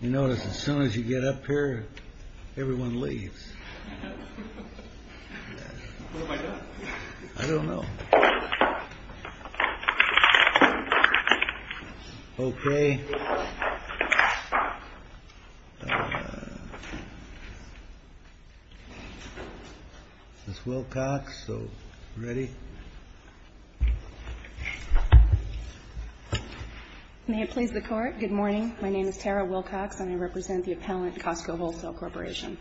You notice as soon as you get up here, everyone leaves. What am I doing? I don't know. Okay. Ms. Wilcox, are you ready? May it please the Court, good morning. My name is Tara Wilcox and I represent the appellant Costco Wholesale Corporation.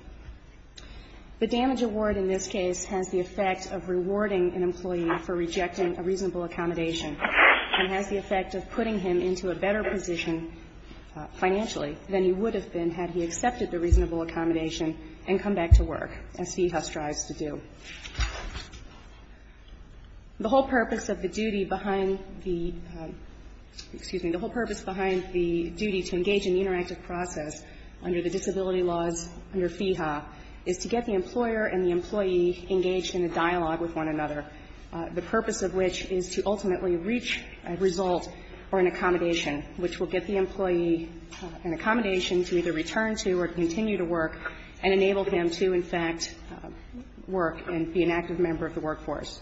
The damage award in this case has the effect of rewarding an employee for rejecting a reasonable accommodation and has the effect of putting him into a better position financially than he would have been had he accepted the reasonable accommodation and come back to work, as Feehuff strives to do. The whole purpose of the duty behind the — excuse me. The purpose of the duty behind Feehuff is to get the employer and the employee engaged in a dialogue with one another, the purpose of which is to ultimately reach a result or an accommodation, which will get the employee an accommodation to either return to or continue to work and enable him to, in fact, work and be an active member of the workforce.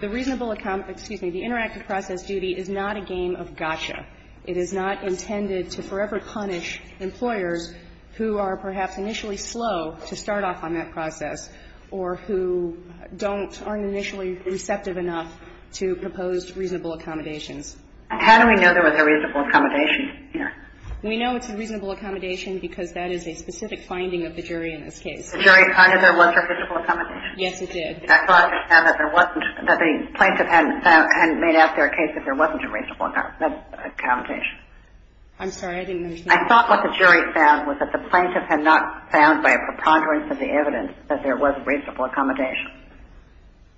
The reasonable — excuse me. The interactive process duty is not a game of gotcha. It is not intended to forever punish employers who are perhaps initially slow to start off on that process or who don't — aren't initially receptive enough to proposed reasonable accommodations. How do we know there was a reasonable accommodation here? We know it's a reasonable accommodation because that is a specific finding of the jury in this case. The jury found that there was a reasonable accommodation. Yes, it did. I thought that there wasn't — that the plaintiff hadn't found — hadn't made out there a case that there wasn't a reasonable accommodation. I'm sorry. I didn't understand. I thought what the jury found was that the plaintiff had not found by a preponderance of the evidence that there was a reasonable accommodation,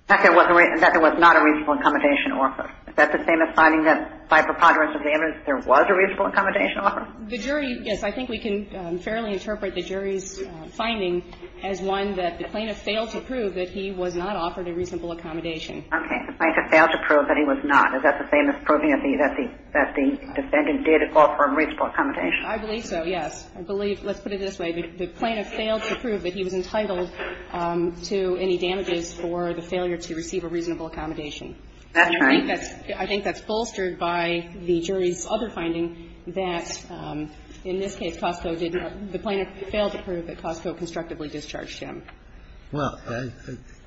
that there was not a reasonable accommodation offered. Is that the same as finding that by preponderance of the evidence there was a reasonable accommodation offered? The jury — yes, I think we can fairly interpret the jury's finding as one that the plaintiff failed to prove that he was not offered a reasonable accommodation. Okay. The plaintiff failed to prove that he was not. Is that the same as proving that the defendant did offer a reasonable accommodation? I believe so, yes. I believe — let's put it this way. The plaintiff failed to prove that he was entitled to any damages for the failure to receive a reasonable accommodation. That's right. And I think that's — I think that's bolstered by the jury's other finding that in this case, Cosco did not — the plaintiff failed to prove that Cosco constructively discharged him. Well,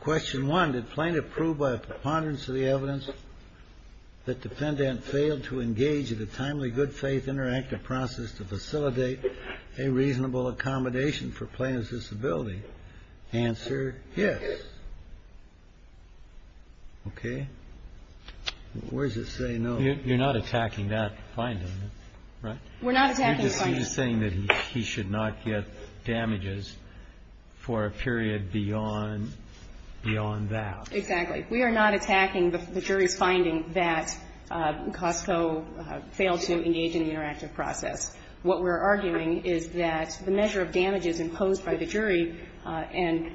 question one, did plaintiff prove by preponderance of the evidence that defendant failed to engage in a timely, good-faith, interactive process to facilitate a reasonable accommodation for plaintiff's disability? Answer, yes. Okay. Where does it say no? You're not attacking that finding, right? We're not attacking the finding. You're just saying that he should not get damages for a period beyond — beyond that. Exactly. We are not attacking the jury's finding that Cosco failed to engage in the interactive process. What we're arguing is that the measure of damages imposed by the jury and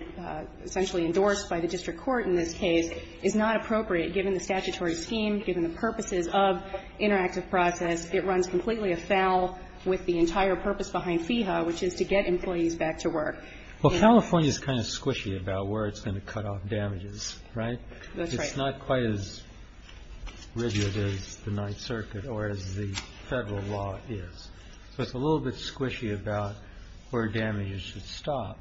essentially endorsed by the district court in this case is not appropriate, given the statutory scheme, given the purposes of interactive process. It runs completely afoul with the entire purpose behind FEHA, which is to get employees back to work. Well, California is kind of squishy about where it's going to cut off damages, right? That's right. It's not quite as rigid as the Ninth Circuit or as the Federal law is. So it's a little bit squishy about where damages should stop.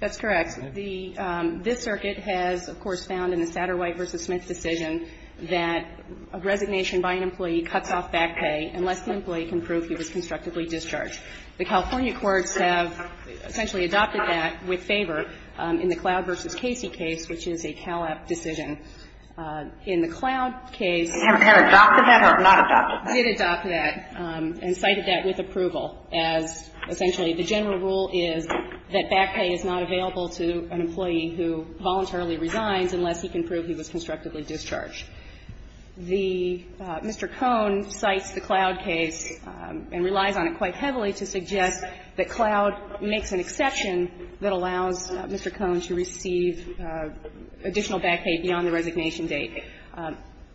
That's correct. The — this circuit has, of course, found in the Satterwhite v. Smith decision that a resignation by an employee cuts off back pay unless the employee can prove he was constructively discharged. The California courts have essentially adopted that with favor in the Cloud v. Casey case, which is a Cal-App decision. In the Cloud case — Have they adopted that or not adopted that? They did adopt that and cited that with approval as essentially the general rule is that back pay is not available to an employee who voluntarily resigns unless he can Mr. Cohn cites the Cloud case and relies on it quite heavily to suggest that Cloud makes an exception that allows Mr. Cohn to receive additional back pay beyond the resignation date.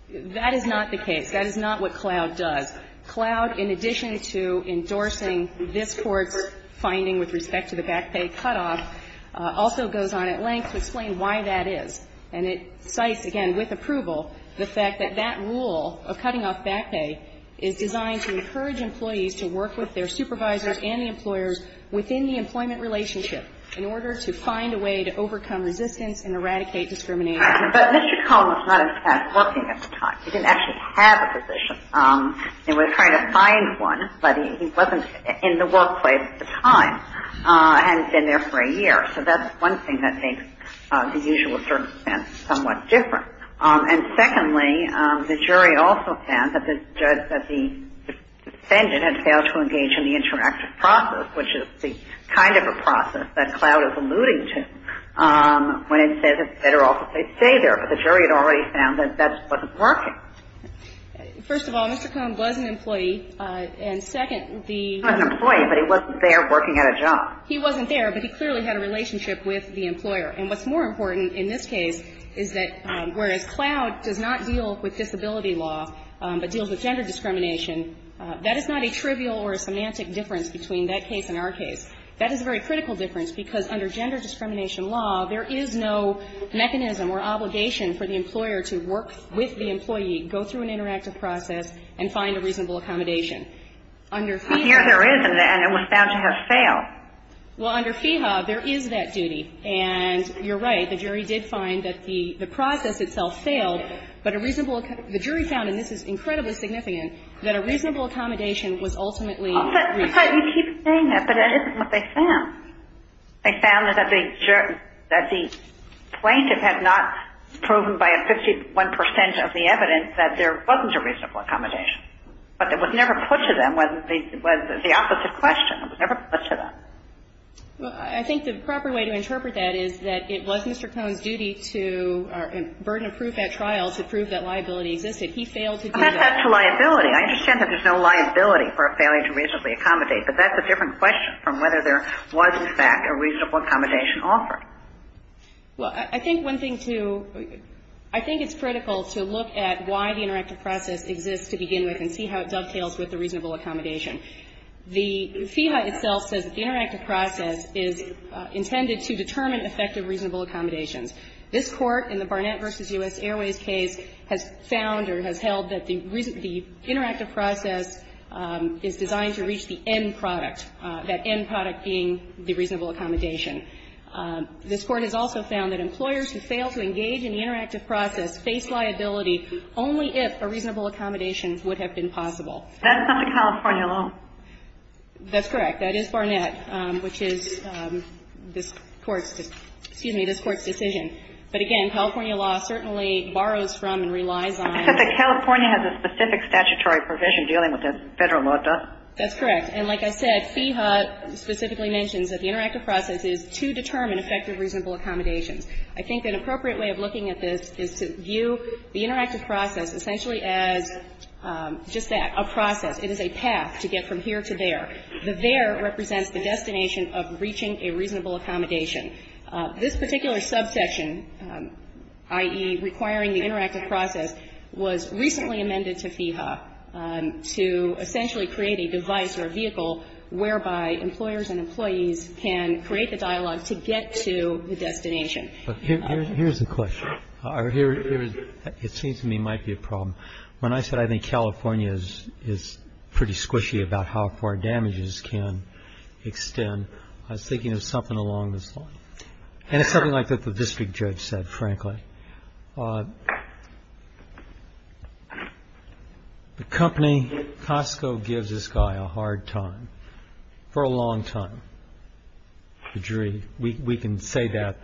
That is not the case. That is not what Cloud does. Cloud, in addition to endorsing this Court's finding with respect to the back pay cutoff, also goes on at length to explain why that is. And it cites, again, with approval, the fact that that rule of cutting off back pay is designed to encourage employees to work with their supervisors and the employers within the employment relationship in order to find a way to overcome resistance and eradicate discrimination. But Mr. Cohn was not as fast working at the time. He didn't actually have a position. They were trying to find one, but he wasn't in the workplace at the time, hadn't been there for a year. So that's one thing that makes the usual circumstance somewhat different. And secondly, the jury also found that the defendant had failed to engage in the interactive process, which is the kind of a process that Cloud is alluding to, when it says it's better off if they stay there. But the jury had already found that that wasn't working. First of all, Mr. Cohn was an employee. And second, the ---- He was an employee, but he wasn't there working at a job. He wasn't there, but he clearly had a relationship with the employer. And what's more important in this case is that whereas Cloud does not deal with disability law, but deals with gender discrimination, that is not a trivial or a semantic difference between that case and our case. That is a very critical difference, because under gender discrimination law, there is no mechanism or obligation for the employer to work with the employee, go through an interactive process, and find a reasonable accommodation. Under FEHA ---- Here there isn't, and it was found to have failed. Well, under FEHA, there is that duty. And you're right, the jury did find that the process itself failed, but a reasonable ---- the jury found, and this is incredibly significant, that a reasonable accommodation was ultimately reasonable. But you keep saying that, but that isn't what they found. They found that the plaintiff had not proven by a 51 percent of the evidence that there wasn't a reasonable accommodation. But it was never put to them. It was the opposite question. It was never put to them. Well, I think the proper way to interpret that is that it was Mr. Cohn's duty to burden a proof at trial to prove that liability existed. He failed to do that. I'm not set to liability. I understand that there's no liability for a failure to reasonably accommodate, but that's a different question from whether there was, in fact, a reasonable accommodation offered. Well, I think one thing to ---- I think it's critical to look at why the interactive process exists to begin with and see how it dovetails with the reasonable accommodation. The FIHA itself says that the interactive process is intended to determine effective reasonable accommodations. This Court in the Barnett v. U.S. Airways case has found or has held that the interactive process is designed to reach the end product, that end product being the reasonable accommodation. This Court has also found that employers who fail to engage in the interactive process face liability only if a reasonable accommodation would have been possible. That's not the California law. That's correct. That is Barnett, which is this Court's ---- excuse me, this Court's decision. But, again, California law certainly borrows from and relies on ---- Except that California has a specific statutory provision dealing with the Federal law does. That's correct. And like I said, FIHA specifically mentions that the interactive process is to determine effective reasonable accommodations. I think an appropriate way of looking at this is to view the interactive process essentially as just that, a process. It is a path to get from here to there. The there represents the destination of reaching a reasonable accommodation. This particular subsection, i.e., requiring the interactive process, was recently amended to FIHA to essentially create a device or a vehicle whereby employers and employees can create a dialogue to get to the destination. Here's a question. It seems to me it might be a problem. When I said I think California is pretty squishy about how far damages can extend, I was thinking of something along this line. The company, Costco, gives this guy a hard time for a long time. The jury, we can say that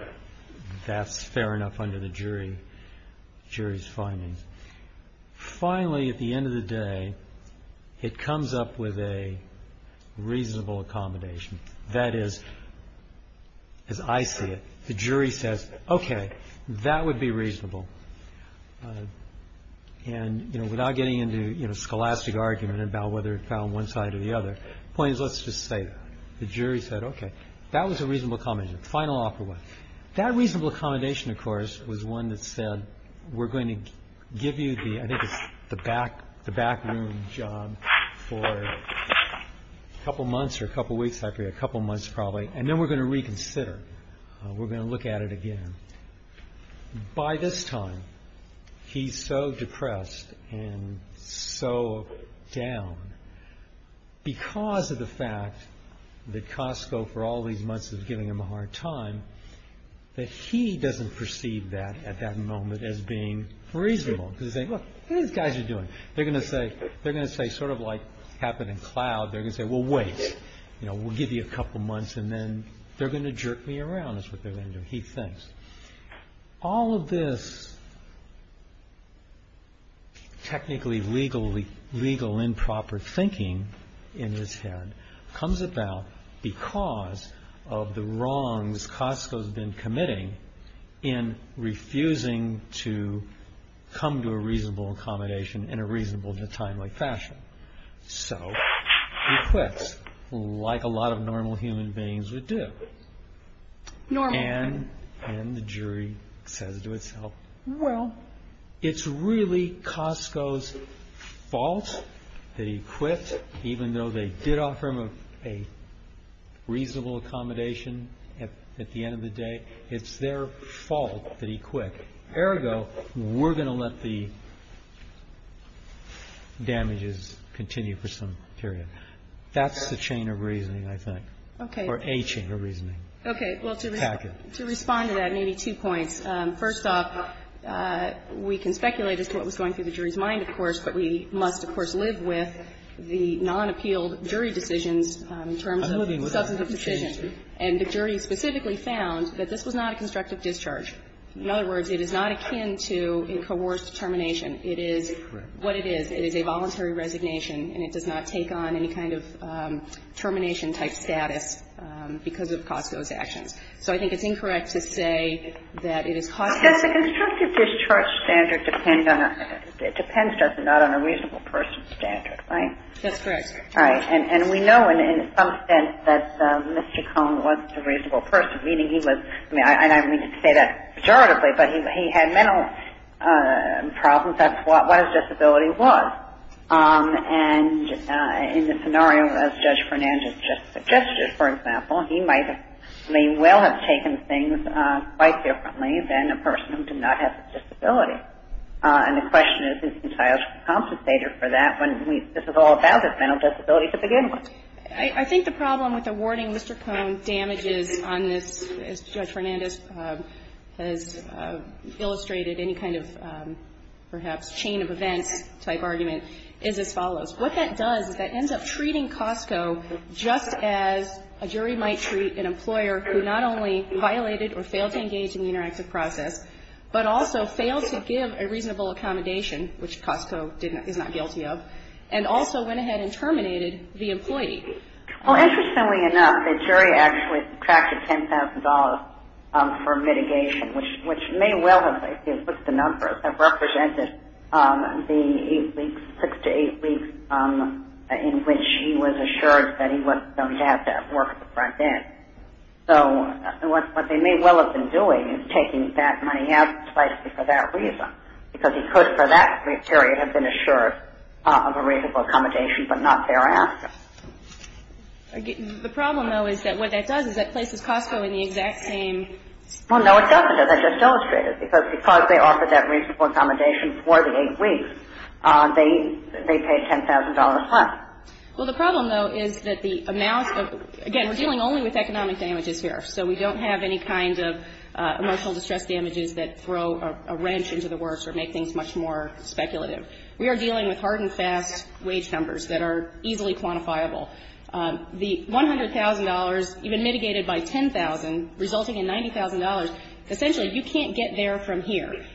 that's fair enough under the jury's findings. Finally, at the end of the day, it comes up with a reasonable accommodation. That is, as I see it, the jury says, okay, that would be reasonable. And without getting into a scholastic argument about whether it fell on one side or the other, the point is let's just say the jury said, okay, that was a reasonable accommodation, the final offer was. That reasonable accommodation, of course, was one that said we're going to give you the I think it's the back room job for a couple of months or a couple of weeks, a couple of months probably, and then we're going to reconsider. We're going to look at it again. By this time, he's so depressed and so down because of the fact that Costco, for all these months, was giving him a hard time, that he doesn't perceive that at that moment as being reasonable. Because he's saying, look, look what these guys are doing. They're going to say, sort of like what happened in Cloud, they're going to say, well, wait, we'll give you a couple of months and then they're going to jerk me around is what they're going to do, he thinks. All of this technically legal improper thinking in his head comes about because of the wrongs Costco's been committing in refusing to come to a reasonable accommodation in a reasonable and timely fashion. So he quits, like a lot of normal human beings would do. And the jury says to itself, well, it's really Costco's fault that he quit, even though they did offer him a reasonable accommodation at the end of the day. It's their fault that he quit. Ergo, we're going to let the damages continue for some period. That's the chain of reasoning, I think. Or a chain of reasoning. Kagan. Okay. Well, to respond to that, maybe two points. First off, we can speculate as to what was going through the jury's mind, of course, but we must, of course, live with the nonappealed jury decisions in terms of substantive decisions. And the jury specifically found that this was not a constructive discharge. In other words, it is not akin to a coerced termination. It is what it is. It is a voluntary resignation, and it does not take on any kind of termination-type status because of Costco's actions. So I think it's incorrect to say that it is Costco's fault. But the constructive discharge standard depends on a reasonable person, right? That's correct. Right. And we know, in some sense, that Mr. Cohn was a reasonable person, meaning he was – and I don't mean to say that pejoratively, but he had mental problems. That's what his disability was. And in the scenario as Judge Fernandez just suggested, for example, he may well have taken things quite differently than a person who did not have a disability. And the question is, is he entitled to be compensated for that when this is all about his mental disability to begin with? I think the problem with awarding Mr. Cohn damages on this, as Judge Fernandez has illustrated any kind of perhaps chain of events-type argument, is as follows. What that does is that it ends up treating Costco just as a jury might treat an employer who not only violated or failed to engage in the interactive process, but also failed to give a reasonable accommodation, which Costco is not guilty of, and also went ahead and terminated the employee. Well, interestingly enough, the jury actually tracked $10,000 for mitigation, which may well have, if you look at the numbers, have represented the six to eight weeks in which he was assured that he was going to have to work at the front end. So what they may well have been doing is taking that money out slightly for that period, have been assured of a reasonable accommodation, but not thereafter. The problem, though, is that what that does is that places Costco in the exact same spot. Well, no, it doesn't. As I just illustrated, because they offered that reasonable accommodation for the eight weeks, they paid $10,000 less. Well, the problem, though, is that the amount of, again, we're dealing only with economic damages here. So we don't have any kind of emotional distress damages that throw a wrench into the works or make things much more speculative. We are dealing with hard and fast wage numbers that are easily quantifiable. The $100,000, even mitigated by $10,000, resulting in $90,000, essentially you can't get there from here.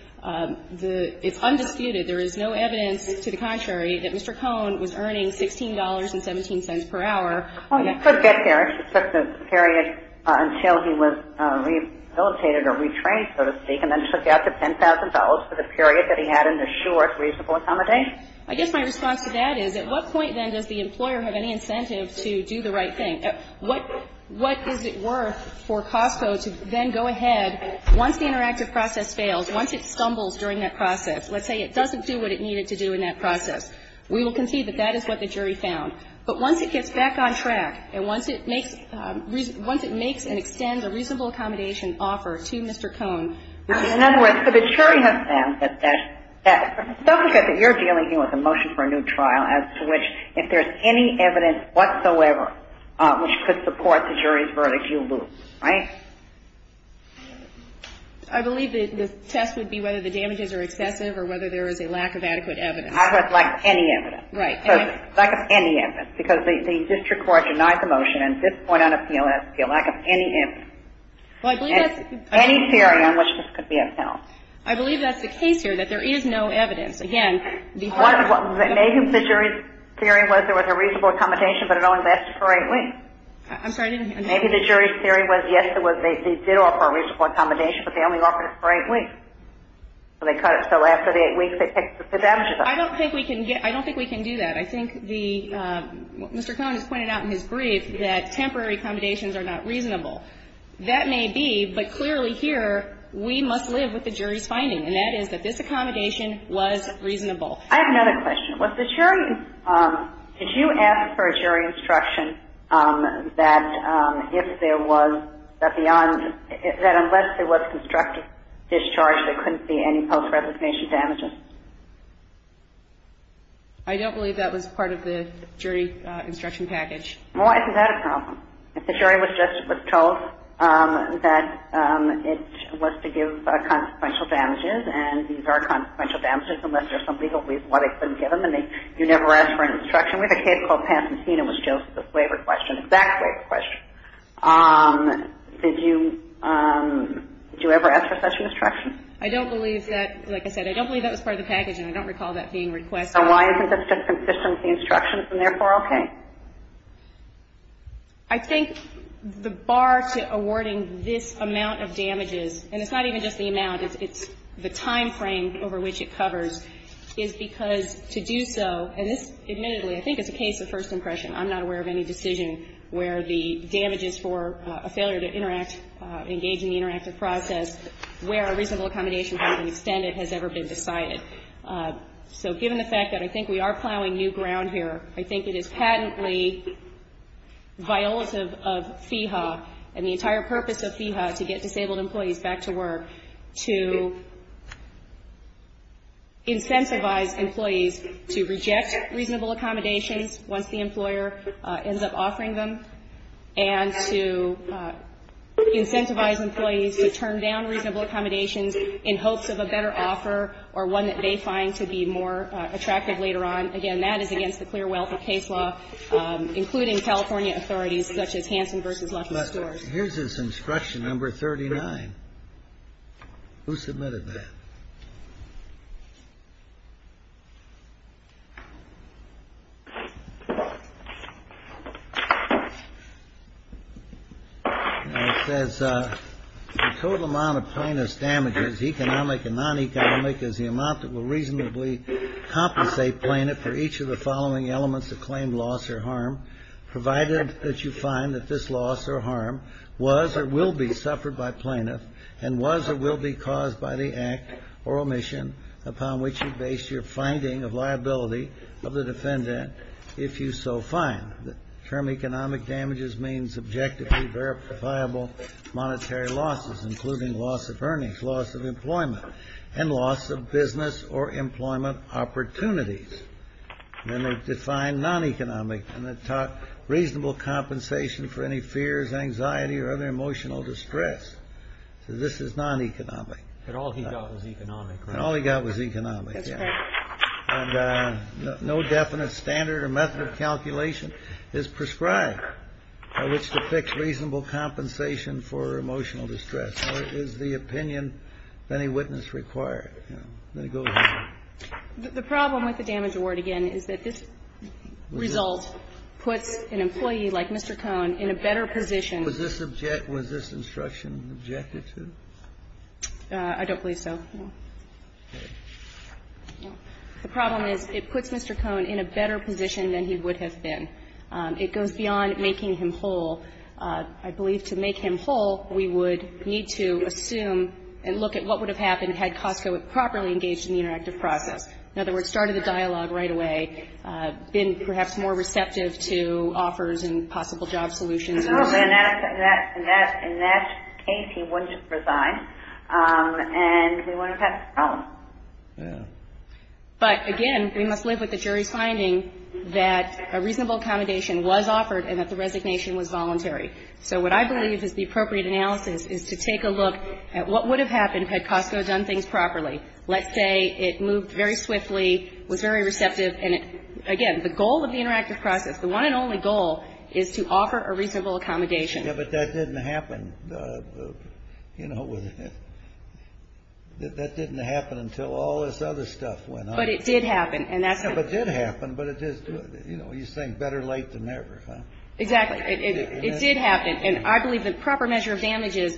It's undisputed, there is no evidence to the contrary, that Mr. Cohn was earning $16.17 per hour. Well, he could get there. He could get there until he was rehabilitated or retrained, so to speak, and then for the period that he had in the short reasonable accommodation? I guess my response to that is at what point, then, does the employer have any incentive to do the right thing? What is it worth for Costco to then go ahead, once the interactive process fails, once it stumbles during that process, let's say it doesn't do what it needed to do in that process, we will concede that that is what the jury found. But once it gets back on track and once it makes and extends a reasonable accommodation offer to Mr. Cohn. In other words, so the jury has said that you're dealing here with a motion for a new trial as to which, if there's any evidence whatsoever which could support the jury's verdict, you lose, right? I believe the test would be whether the damages are excessive or whether there is a lack of adequate evidence. I would like any evidence. Right. Lack of any evidence, because the district court denied the motion, and at this point on appeal, it has to be a lack of any evidence. Well, I believe that's Any theory on which this could be a foul. I believe that's the case here, that there is no evidence. Again, the Maybe the jury's theory was there was a reasonable accommodation, but it only lasted for eight weeks. I'm sorry, I didn't hear you. Maybe the jury's theory was, yes, there was, they did offer a reasonable accommodation, but they only offered it for eight weeks. So they cut it, so after the eight weeks, they picked the damages up. I don't think we can get, I don't think we can do that. I think the, Mr. Cohn has pointed out in his brief that temporary accommodations are not reasonable. That may be, but clearly here, we must live with the jury's finding, and that is that this accommodation was reasonable. I have another question. Was the jury, did you ask for a jury instruction that if there was, that unless there was constructive discharge, there couldn't be any post-resignation damages? I don't believe that was part of the jury instruction package. Well, isn't that a problem? If the jury was just told that it was to give consequential damages, and these are consequential damages, unless there's some legal reason why they couldn't give them, and they, you never ask for an instruction. We have a case called Pantosina, which deals with this waiver question, exact waiver question. Did you, did you ever ask for such an instruction? I don't believe that, like I said, I don't believe that was part of the package, and I don't recall that being requested. So why isn't it consistent with the instructions, and therefore okay? I think the bar to awarding this amount of damages, and it's not even just the amount, it's the timeframe over which it covers, is because to do so, and this admittedly, I think it's a case of first impression. I'm not aware of any decision where the damages for a failure to interact, engage in the interactive process, where a reasonable accommodation has been extended has ever been decided. So given the fact that I think we are plowing new ground here, I think it is patently violative of FEHA, and the entire purpose of FEHA to get disabled employees back to work, to incentivize employees to reject reasonable accommodations once the employer ends up offering them, and to incentivize employees to turn down reasonable accommodations in hopes of a better offer, or one that they find to be more attractive later on. Again, that is against the clear wealth of case law, including California authorities such as Hanson v. Lucky Stewart. Here's this instruction, number 39. Who submitted that? It says the total amount of plaintiff's damages, economic and non-economic, is the following elements that claim loss or harm, provided that you find that this loss or harm was or will be suffered by plaintiff, and was or will be caused by the act or omission upon which you base your finding of liability of the defendant, if you so find. The term economic damages means objectively verifiable monetary losses, including loss of earnings, loss of employment, and loss of business or employment opportunities. Then they define non-economic, and it taught reasonable compensation for any fears, anxiety, or other emotional distress. So this is non-economic. But all he got was economic, right? And all he got was economic, yeah. That's correct. And no definite standard or method of calculation is prescribed by which to fix reasonable compensation for emotional distress. So it is the opinion of any witness required. Then it goes on. The problem with the damage award, again, is that this result puts an employee like Mr. Cohn in a better position. Was this objection, was this instruction objected to? I don't believe so, no. The problem is it puts Mr. Cohn in a better position than he would have been. It goes beyond making him whole. I believe to make him whole, we would need to assume and look at what would have happened had Costco properly engaged in the interactive process. In other words, started the dialogue right away, been perhaps more receptive to offers and possible job solutions. In that case, he wouldn't have resigned, and we wouldn't have had this problem. Yeah. But, again, we must live with the jury's finding that a reasonable accommodation was offered and that the resignation was voluntary. So what I believe is the appropriate analysis is to take a look at what would have happened had Costco done things properly. Let's say it moved very swiftly, was very receptive. And, again, the goal of the interactive process, the one and only goal, is to offer a reasonable accommodation. Yeah, but that didn't happen, you know, that didn't happen until all this other stuff went on. But it did happen. Yeah, but it did happen. But it is, you know, you think better late than never. Exactly. It did happen. And I believe the proper measure of damage is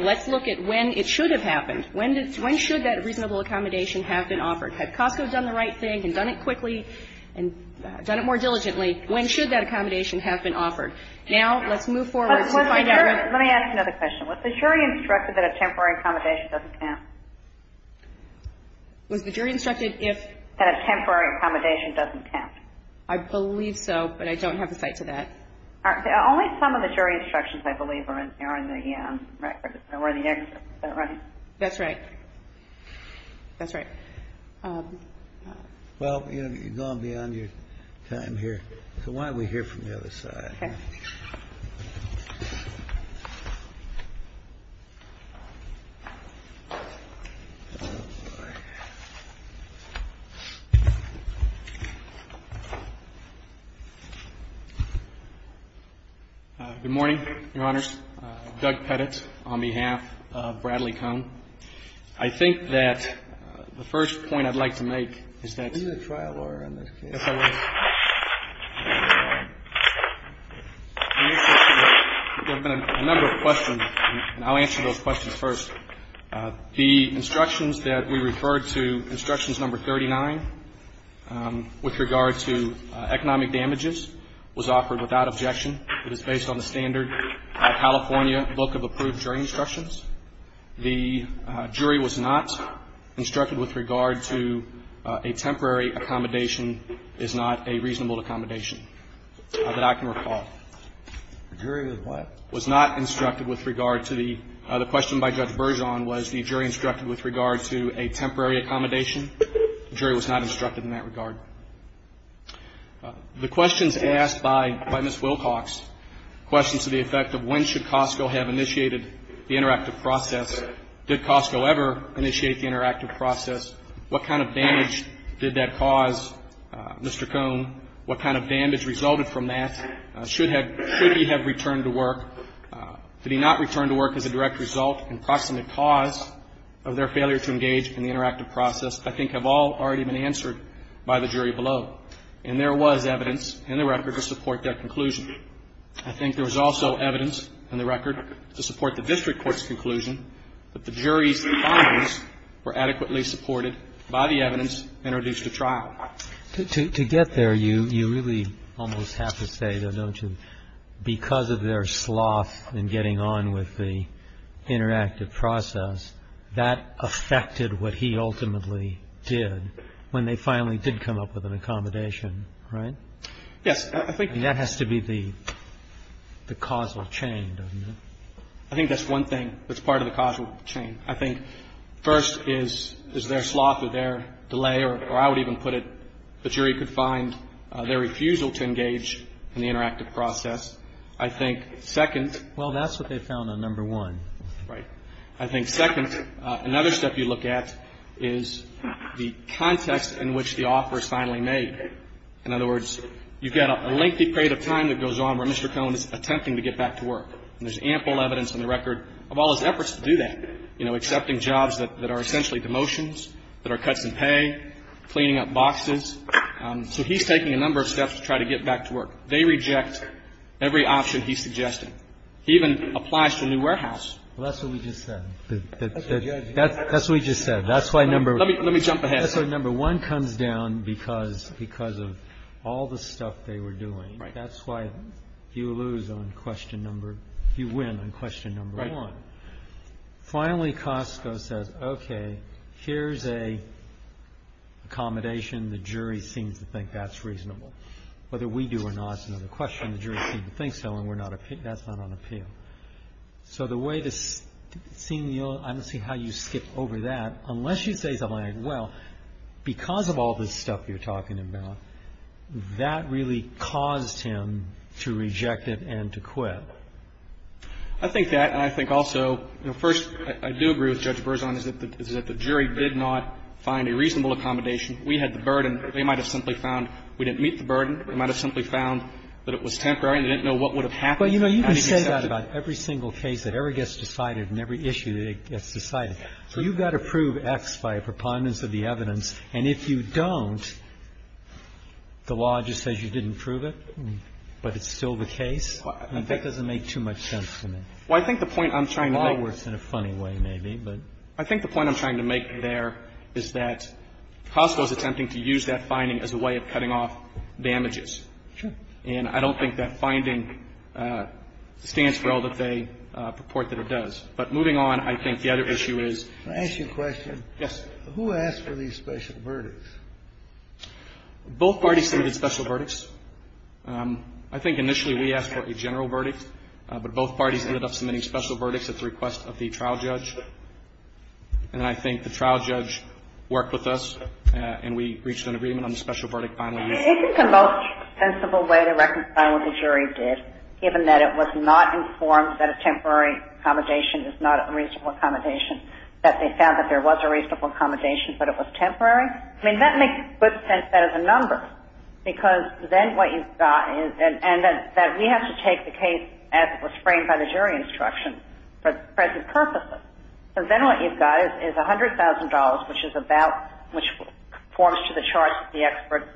let's look at when it should have happened. When should that reasonable accommodation have been offered? Had Costco done the right thing and done it quickly and done it more diligently, when should that accommodation have been offered? Now let's move forward to find out. Let me ask another question. Was the jury instructed that a temporary accommodation doesn't count? Was the jury instructed if? That a temporary accommodation doesn't count. I believe so, but I don't have a cite to that. Only some of the jury instructions, I believe, are in the record. Where are the next? Is that right? That's right. That's right. Well, you know, you've gone beyond your time here. So why don't we hear from the other side? Okay. Good morning, Your Honors. Doug Pettit on behalf of Bradley Cone. I think that the first point I'd like to make is that the instructions that we referred to, instructions number 39, with regard to economic damages, was offered without objection. It is based on the standard California Book of Approved Jury Instructions. The jury was not instructed with regard to a temporary accommodation is not a reasonable accommodation that I can recall. The jury was what? Was not instructed with regard to the question by Judge Bergeon was the jury instructed with regard to a temporary accommodation. The jury was not instructed in that regard. The questions asked by Ms. Wilcox, questions to the effect of when should Costco have initiated the interactive process? Did Costco ever initiate the interactive process? What kind of damage did that cause, Mr. Cone? What kind of damage resulted from that? Should he have returned to work? Did he not return to work as a direct result and proximate cause of their failure to engage in the interactive process? I think all have already been answered by the jury below. And there was evidence in the record to support that conclusion. I think there was also evidence in the record to support the district court's conclusion that the jury's findings were adequately supported by the evidence introduced at trial. To get there, you really almost have to say, though, don't you, because of their sloth in getting on with the interactive process, that affected what he ultimately did when they finally did come up with an accommodation, right? Yes. I think that has to be the causal chain, doesn't it? I think that's one thing that's part of the causal chain. I think first is their sloth or their delay, or I would even put it, the jury could find their refusal to engage in the interactive process. I think second. Well, that's what they found on number one. Right. I think second, another step you look at is the context in which the offer is finally made. In other words, you've got a lengthy period of time that goes on where Mr. Cohen is attempting to get back to work. And there's ample evidence in the record of all his efforts to do that, you know, accepting jobs that are essentially demotions, that are cuts in pay, cleaning up boxes. So he's taking a number of steps to try to get back to work. They reject every option he's suggesting. He even applies to a new warehouse. Well, that's what we just said. That's what we just said. That's why number one comes down because of all the stuff they were doing. Right. That's why you lose on question number — you win on question number one. Right. Finally, Costco says, okay, here's an accommodation. The jury seems to think that's reasonable. Whether we do or not is another question. The jury seems to think so, and we're not — that's not on appeal. So the way to see — I don't see how you skip over that. Unless you say something like, well, because of all this stuff you're talking about, that really caused him to reject it and to quit. I think that, and I think also, you know, first, I do agree with Judge Berzon, is that the jury did not find a reasonable accommodation. We had the burden. They might have simply found we didn't meet the burden. They might have simply found that it was temporary and they didn't know what would have happened. Well, you know, you can say that about every single case that ever gets decided and every issue that gets decided. So you've got to prove X by a preponderance of the evidence, and if you don't, the law just says you didn't prove it, but it's still the case. That doesn't make too much sense to me. Well, I think the point I'm trying to make — In a funny way, maybe, but — I think the point I'm trying to make there is that Costco is attempting to use that finding as a way of cutting off damages. Sure. And I don't think that finding stands for all that they purport that it does. But moving on, I think the other issue is — Can I ask you a question? Yes. Who asked for these special verdicts? Both parties submitted special verdicts. I think initially we asked for a general verdict, but both parties ended up submitting special verdicts at the request of the trial judge. And I think the trial judge worked with us, and we reached an agreement on the special verdict finally. Isn't the most sensible way to reconcile what the jury did, given that it was not informed that a temporary accommodation is not a reasonable accommodation, that they found that there was a reasonable accommodation, but it was temporary? I mean, that makes good sense as a number, because then what you've got is — and we have to take the case as it was framed by the jury instruction for present purposes. So then what you've got is $100,000, which is about — which conforms to the charge that the expert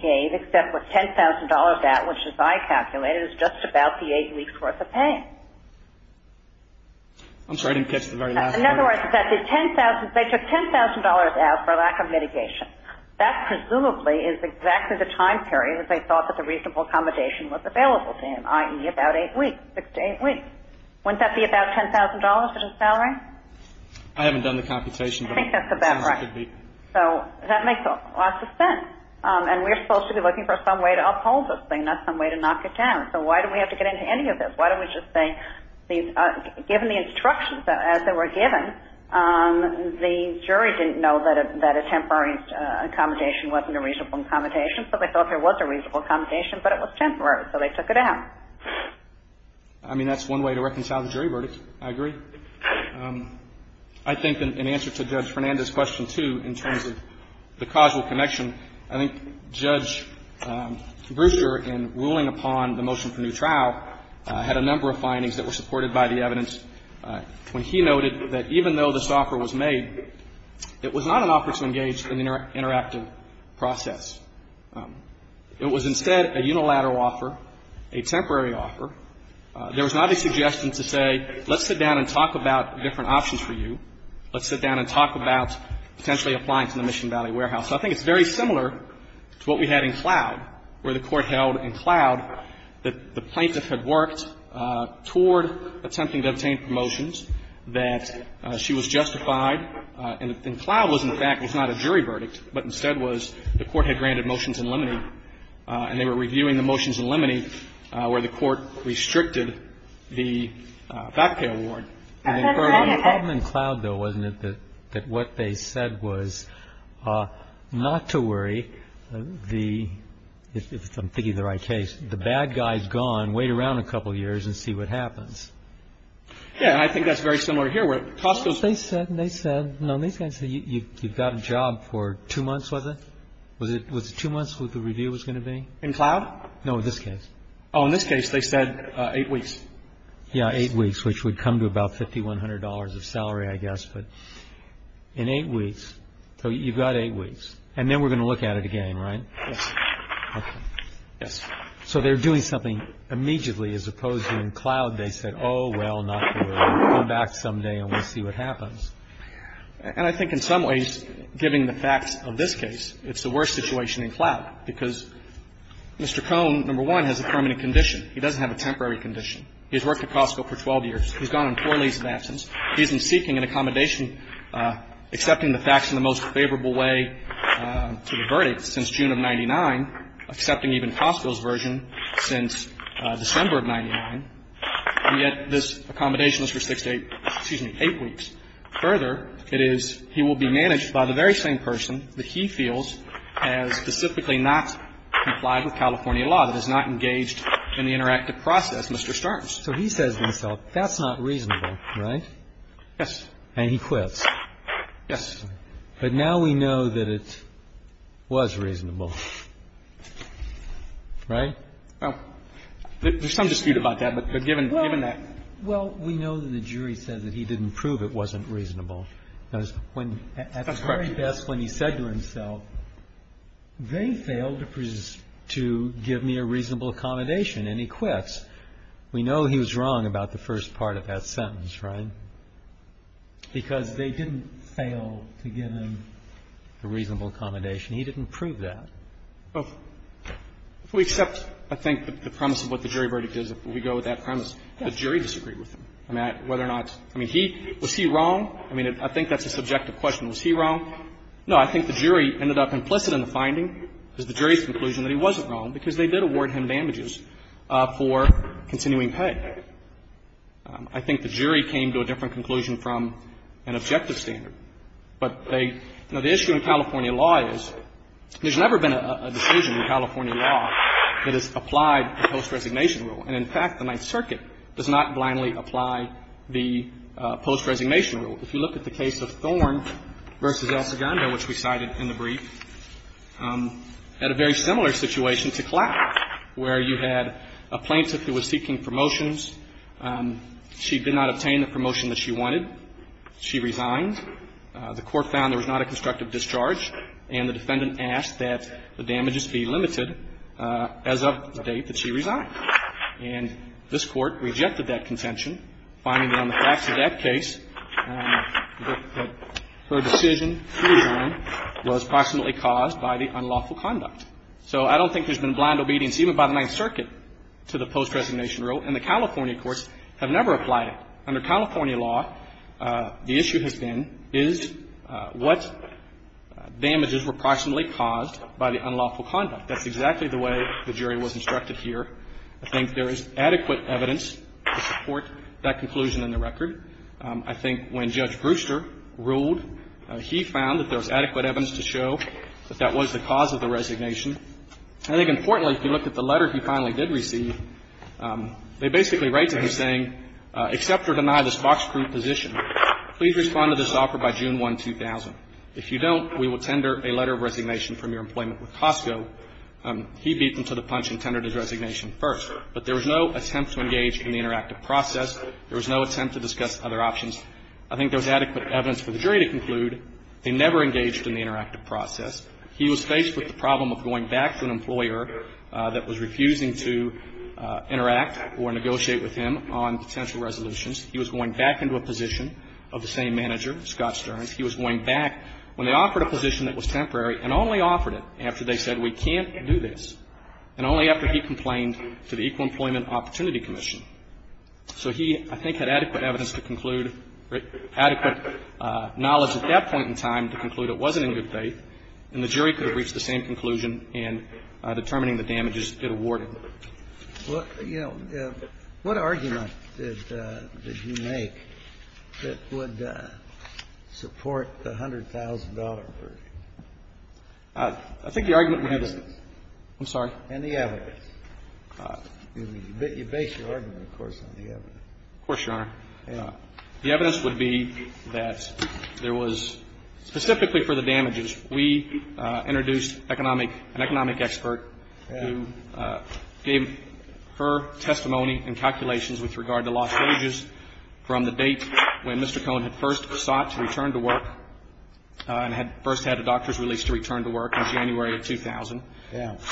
gave, except for $10,000 out, which, as I calculated, is just about the eight weeks' worth of pay. I'm sorry. I didn't catch the very last part. In other words, that the $10,000 — they took $10,000 out for lack of mitigation. That presumably is exactly the time period that they thought that the reasonable accommodation was available to him, i.e., about eight weeks, six to eight weeks. Wouldn't that be about $10,000 in his salary? I haven't done the computation, but it sounds like it would be. I think that's about right. So that makes a lot of sense. And we're supposed to be looking for some way to uphold this thing, not some way to knock it down. So why do we have to get into any of this? Why don't we just say, given the instructions as they were given, the jury didn't know that a temporary accommodation wasn't a reasonable accommodation, so they thought there was a reasonable accommodation, but it was temporary, so they took it out. I mean, that's one way to reconcile the jury verdict. I agree. I think in answer to Judge Fernandez's question, too, in terms of the causal connection, I think Judge Brewster, in ruling upon the motion for new trial, had a number of findings that were supported by the evidence when he noted that even though this offer was made, it was not an offer to engage in the interactive process. It was instead a unilateral offer, a temporary offer. There was not a suggestion to say, let's sit down and talk about different options for you. Let's sit down and talk about potentially applying to the Mission Valley Warehouse. So I think it's very similar to what we had in Cloud, where the Court held in Cloud that the plaintiff had worked toward attempting to obtain promotions, that she was justified in that. And Cloud was, in fact, it's not a jury verdict, but instead was the Court had granted motions in limine, and they were reviewing the motions in limine where the Court restricted the fact pay award. The problem in Cloud, though, wasn't it, that what they said was not to worry the – if I'm thinking of the right case – the bad guy's gone, wait around a couple of years and see what happens. Yeah. And I think that's very similar here, where – They said – they said – no, these guys said you've got a job for two months, was it? Was it two months that the review was going to be? In Cloud? No, this case. Oh, in this case, they said eight weeks. Yeah, eight weeks, which would come to about $5,100 of salary, I guess. But in eight weeks – so you've got eight weeks. And then we're going to look at it again, right? Yes. Okay. Yes. So they're doing something immediately, as opposed to in Cloud, they said, oh, well, not to worry. Come back someday and we'll see what happens. And I think in some ways, given the facts of this case, it's the worst situation in Cloud, because Mr. Cohn, number one, has a permanent condition. He doesn't have a temporary condition. He's worked at Costco for 12 years. He's gone on four leases of absence. He's been seeking an accommodation, accepting the facts in the most favorable way to the verdict since June of 99, accepting even Costco's version since December of 99. And yet this accommodation is for six to eight – excuse me, eight weeks. Further, it is he will be managed by the very same person that he feels has specifically not complied with California law, that has not engaged in the interactive process, Mr. Starnes. So he says to himself, that's not reasonable, right? Yes. And he quits. Yes. But now we know that it was reasonable, right? Well, there's some dispute about that. But given that – Well, we know that the jury says that he didn't prove it wasn't reasonable. That's correct. At the very best, when he said to himself, they failed to give me a reasonable accommodation, and he quits. We know he was wrong about the first part of that sentence, right? Because they didn't fail to give him the reasonable accommodation. He didn't prove that. Well, if we accept, I think, the premise of what the jury verdict is, if we go with that premise, the jury disagreed with him. I mean, whether or not – I mean, he – was he wrong? I mean, I think that's a subjective question. Was he wrong? No. I think the jury ended up implicit in the finding, because the jury's conclusion that he wasn't wrong, because they did award him damages for continuing pay. I think the jury came to a different conclusion from an objective standard. But they – now, the issue in California law is there's never been a decision in California law that has applied the post-resignation rule. And, in fact, the Ninth Circuit does not blindly apply the post-resignation rule. If you look at the case of Thorne v. El Segundo, which we cited in the brief, had a very similar situation to Clack, where you had a plaintiff who was seeking promotions. She did not obtain the promotion that she wanted. She resigned. The court found there was not a constructive discharge, and the defendant asked that the damages be limited as of the date that she resigned. And this Court rejected that contention, finding that on the facts of that case, that her decision to resign was approximately caused by the unlawful conduct. So I don't think there's been blind obedience, even by the Ninth Circuit, to the post-resignation rule. And the California courts have never applied it. Under California law, the issue has been is what damages were approximately caused by the unlawful conduct. That's exactly the way the jury was instructed here. I think there is adequate evidence to support that conclusion in the record. I think when Judge Brewster ruled, he found that there was adequate evidence to show that that was the cause of the resignation. I think importantly, if you look at the letter he finally did receive, they basically write to him saying, accept or deny this fox-proof position. Please respond to this offer by June 1, 2000. If you don't, we will tender a letter of resignation from your employment with Costco. He beat them to the punch and tendered his resignation first. But there was no attempt to engage in the interactive process. There was no attempt to discuss other options. I think there was adequate evidence for the jury to conclude they never engaged in the interactive process. He was faced with the problem of going back to an employer that was refusing to interact or negotiate with him on potential resolutions. He was going back into a position of the same manager, Scott Stearns. He was going back when they offered a position that was temporary and only offered it after they said we can't do this, and only after he complained to the Equal Employment Opportunity Commission. So he, I think, had adequate evidence to conclude, adequate knowledge at that point in time to conclude it wasn't in good faith, and the jury could have reached the same conclusion in determining the damages it awarded. Well, you know, what argument did you make that would support the $100,000 version? I think the argument we have is the ---- And the evidence. I'm sorry? And the evidence. Of course, Your Honor. The evidence would be that there was, specifically for the damages, we introduced an economic expert who gave her testimony and calculations with regard to lost wages from the date when Mr. Cohn had first sought to return to work and had first had a doctor's release to return to work in January of 2000.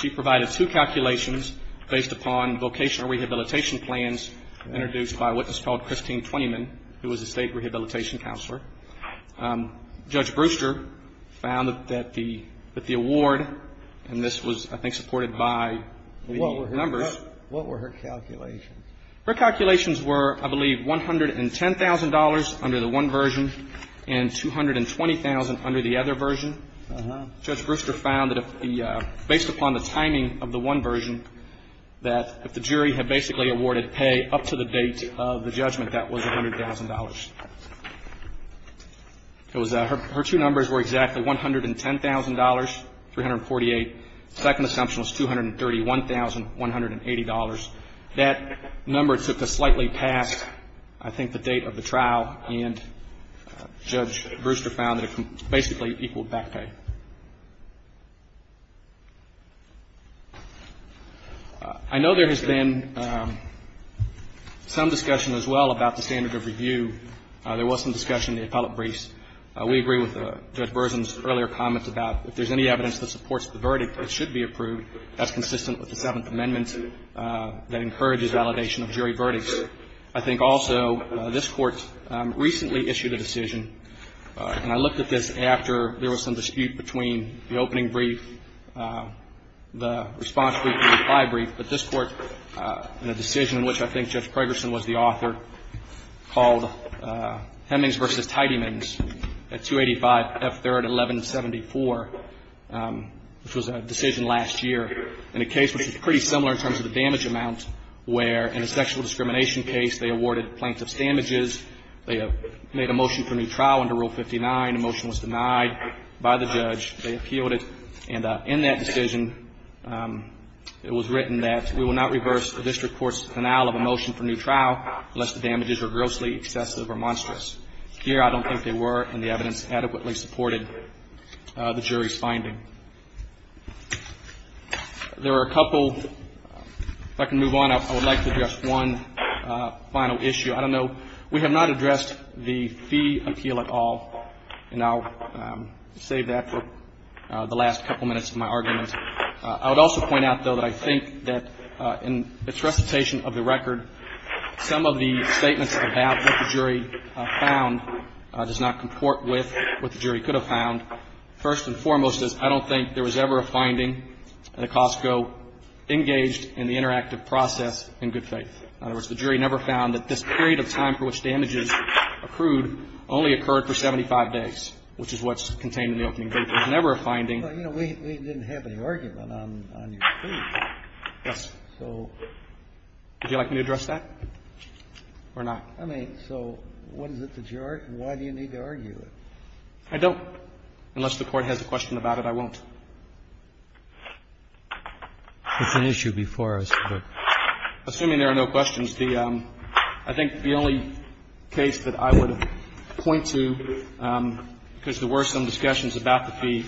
She provided two calculations based upon vocational rehabilitation plans introduced by a witness named King Twentyman, who was a State Rehabilitation Counselor. Judge Brewster found that the award, and this was, I think, supported by the numbers. What were her calculations? Her calculations were, I believe, $110,000 under the one version and $220,000 under the other version. Judge Brewster found that if the ---- based upon the timing of the one version, that if the jury had Her two numbers were exactly $110,000, $348,000. The second assumption was $231,000, $180,000. That number took a slightly past, I think, the date of the trial, and Judge Brewster found that it basically equaled back pay. I know there has been some discussion as well about the standard of review. There was some discussion in the appellate briefs. We agree with Judge Burson's earlier comments about if there's any evidence that supports the verdict, it should be approved. That's consistent with the Seventh Amendment that encourages validation of jury verdicts. I think also this Court recently issued a decision, and I looked at this after there was some dispute between the opening brief, the response brief, and the reply brief, but this Court, in a decision in which I think Judge Pregerson was the author, called Hemmings v. Tiedemans at 285 F. 3rd, 1174, which was a decision last year, in a case which was pretty similar in terms of the damage amount where, in a sexual discrimination case, they awarded plaintiff's damages. They made a motion for a new trial under Rule 59. The motion was denied by the judge. They appealed it. And in that decision, it was written that we will not reverse the district court's denial of a motion for new trial unless the damages are grossly excessive or monstrous. Here, I don't think they were, and the evidence adequately supported the jury's finding. There are a couple. If I can move on, I would like to address one final issue. I don't know. We have not addressed the fee appeal at all, and I'll save that for the last couple minutes of my argument. I would also point out, though, that I think that in its recitation of the record, some of the statements about what the jury found does not comport with what the jury could have found. First and foremost is I don't think there was ever a finding at a Costco engaged in the interactive process in good faith. In other words, the jury never found that this period of time for which damages accrued only occurred for 75 days, which is what's contained in the opening date. There's never a finding. Well, you know, we didn't have any argument on your fee. Yes. So. Would you like me to address that or not? I mean, so what is it that you're arguing? Why do you need to argue it? I don't. Unless the Court has a question about it, I won't. It's an issue before us. Assuming there are no questions, I think the only case that I would point to, because there were some discussions about the fee,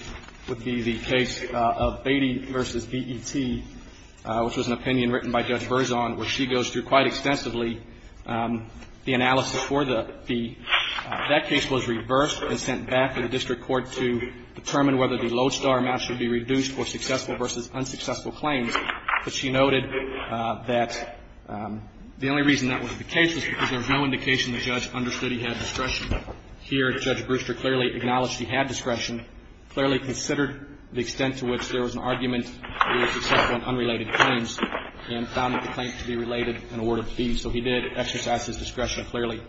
would be the case of Beatty v. BET, which was an opinion written by Judge Berzon, where she goes through quite extensively the analysis for the fee. That case was reversed and sent back to the district court to determine whether the Lodestar match would be reduced for successful versus unsuccessful claims. But she noted that the only reason that was the case was because there was no indication the judge understood he had discretion. Here, Judge Brewster clearly acknowledged he had discretion, clearly considered the extent to which there was an argument that he was successful in unrelated claims, and found that the claim could be related in a word of fee. So he did exercise his discretion clearly.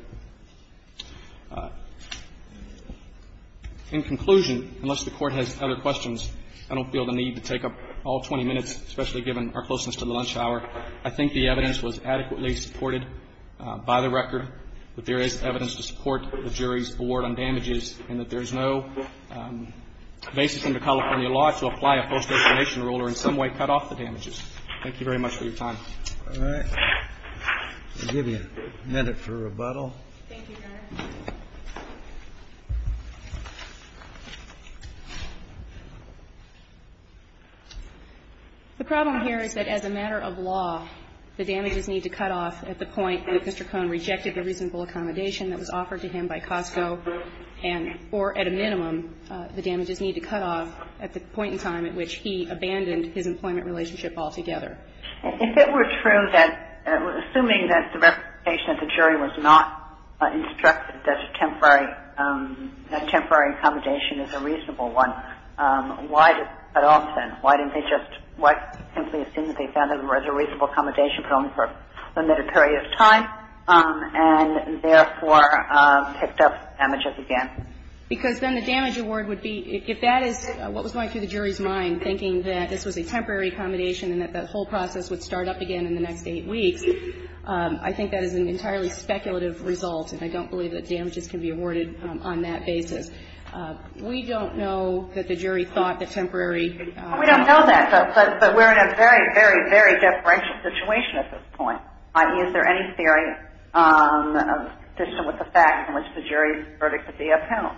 In conclusion, unless the Court has other questions, I don't feel the need to take up all 20 minutes, especially given our closeness to the lunch hour. I think the evidence was adequately supported by the record that there is evidence to support the jury's award on damages and that there is no basis under California law to apply a post-explanation rule or in some way cut off the damages. Thank you very much for your time. All right. I'll give you a minute for rebuttal. Thank you, Your Honor. The problem here is that as a matter of law, the damages need to cut off at the point that Mr. Cohn rejected the reasonable accommodation that was offered to him by Costco and or at a minimum, the damages need to cut off at the point in time at which he abandoned his employment relationship altogether. If it were true that, assuming that the representation of the jury was not instructed that a temporary accommodation is a reasonable one, why did they cut off then? Why didn't they just simply assume that they found it was a reasonable accommodation but only for a limited period of time and therefore picked up damages again? Because then the damage award would be, if that is what was going through the jury's mind that this was a temporary accommodation and that the whole process would start up again in the next eight weeks, I think that is an entirely speculative result and I don't believe that damages can be awarded on that basis. We don't know that the jury thought that temporary ---- We don't know that, but we're in a very, very, very deferential situation at this point. Is there any theory consistent with the fact in which the jury's verdict could be upheld?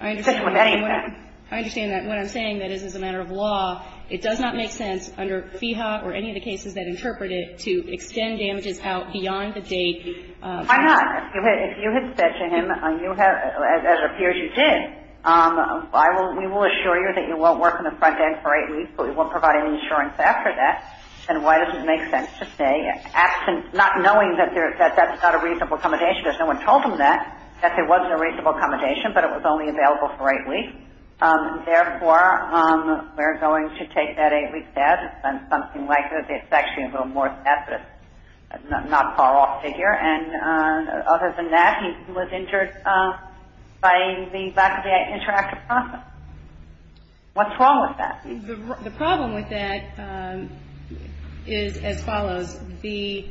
I understand that. When I'm saying that this is a matter of law, it does not make sense under FEHA or any of the cases that interpret it to extend damages out beyond the date. Why not? If you had said to him, as it appears you did, we will assure you that you won't work in the front end for eight weeks, but we won't provide any insurance after that. Then why does it make sense to say, not knowing that that's not a reasonable accommodation because no one told him that, that there wasn't a reasonable accommodation but it was only available for eight weeks. Therefore, we're going to take that eight-week debt. It's been something like that. It's actually a little more tacit, not far-off figure. And other than that, he was injured by the lack of the interactive process. What's wrong with that? The problem with that is as follows. The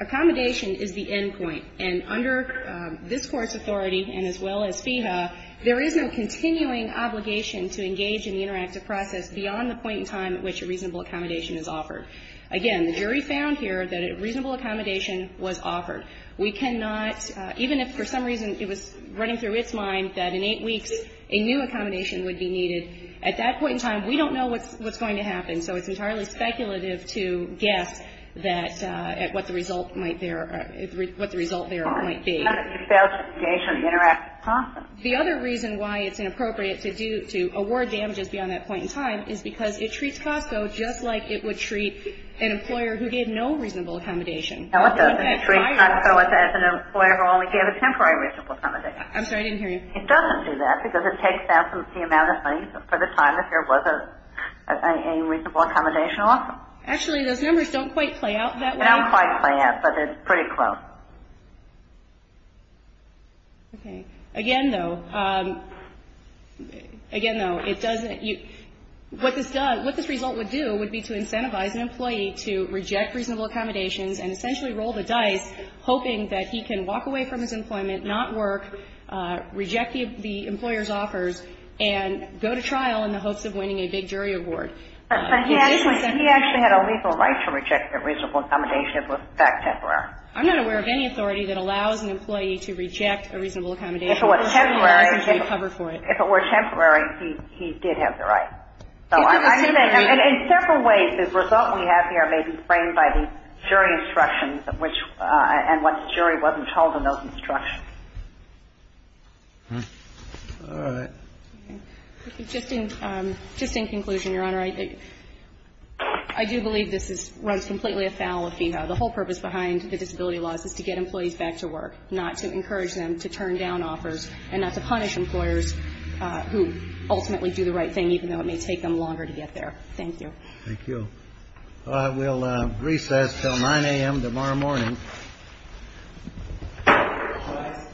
accommodation is the end point. And under this Court's authority and as well as FEHA, there is no continuing obligation to engage in the interactive process beyond the point in time at which a reasonable accommodation is offered. Again, the jury found here that a reasonable accommodation was offered. We cannot, even if for some reason it was running through its mind that in eight weeks a new accommodation would be needed, at that point in time we don't know what's going to happen. So it's entirely speculative to guess at what the result there might be. The other reason why it's inappropriate to award damages beyond that point in time is because it treats COSTCO just like it would treat an employer who gave no reasonable accommodation. No, it doesn't. It treats COSTCO as an employer who only gave a temporary reasonable accommodation. I'm sorry, I didn't hear you. It doesn't do that because it takes out the amount of money for the time if there was a reasonable accommodation offered. Actually, those numbers don't quite play out that way. They don't quite play out, but it's pretty close. Okay. Again, though, again, though, it doesn't, what this result would do would be to incentivize an employee to reject reasonable accommodations and essentially roll the dice, hoping that he can walk away from his employment, not work, reject the employer's offers, and go to trial in the hopes of winning a big jury award. But he actually had a legal right to reject a reasonable accommodation if it was, in fact, temporary. I'm not aware of any authority that allows an employee to reject a reasonable accommodation. If it were temporary, he did have the right. In several ways, the result we have here may be framed by the jury instructions and what the jury wasn't told in those instructions. All right. Just in conclusion, Your Honor, I do believe this runs completely afoul of FEHA. The whole purpose behind the disability laws is to get employees back to work, not to encourage them to turn down offers and not to punish employers who ultimately do the right thing, even though it may take them longer to get there. Thank you. Thank you. We'll recess till 9 a.m. tomorrow morning.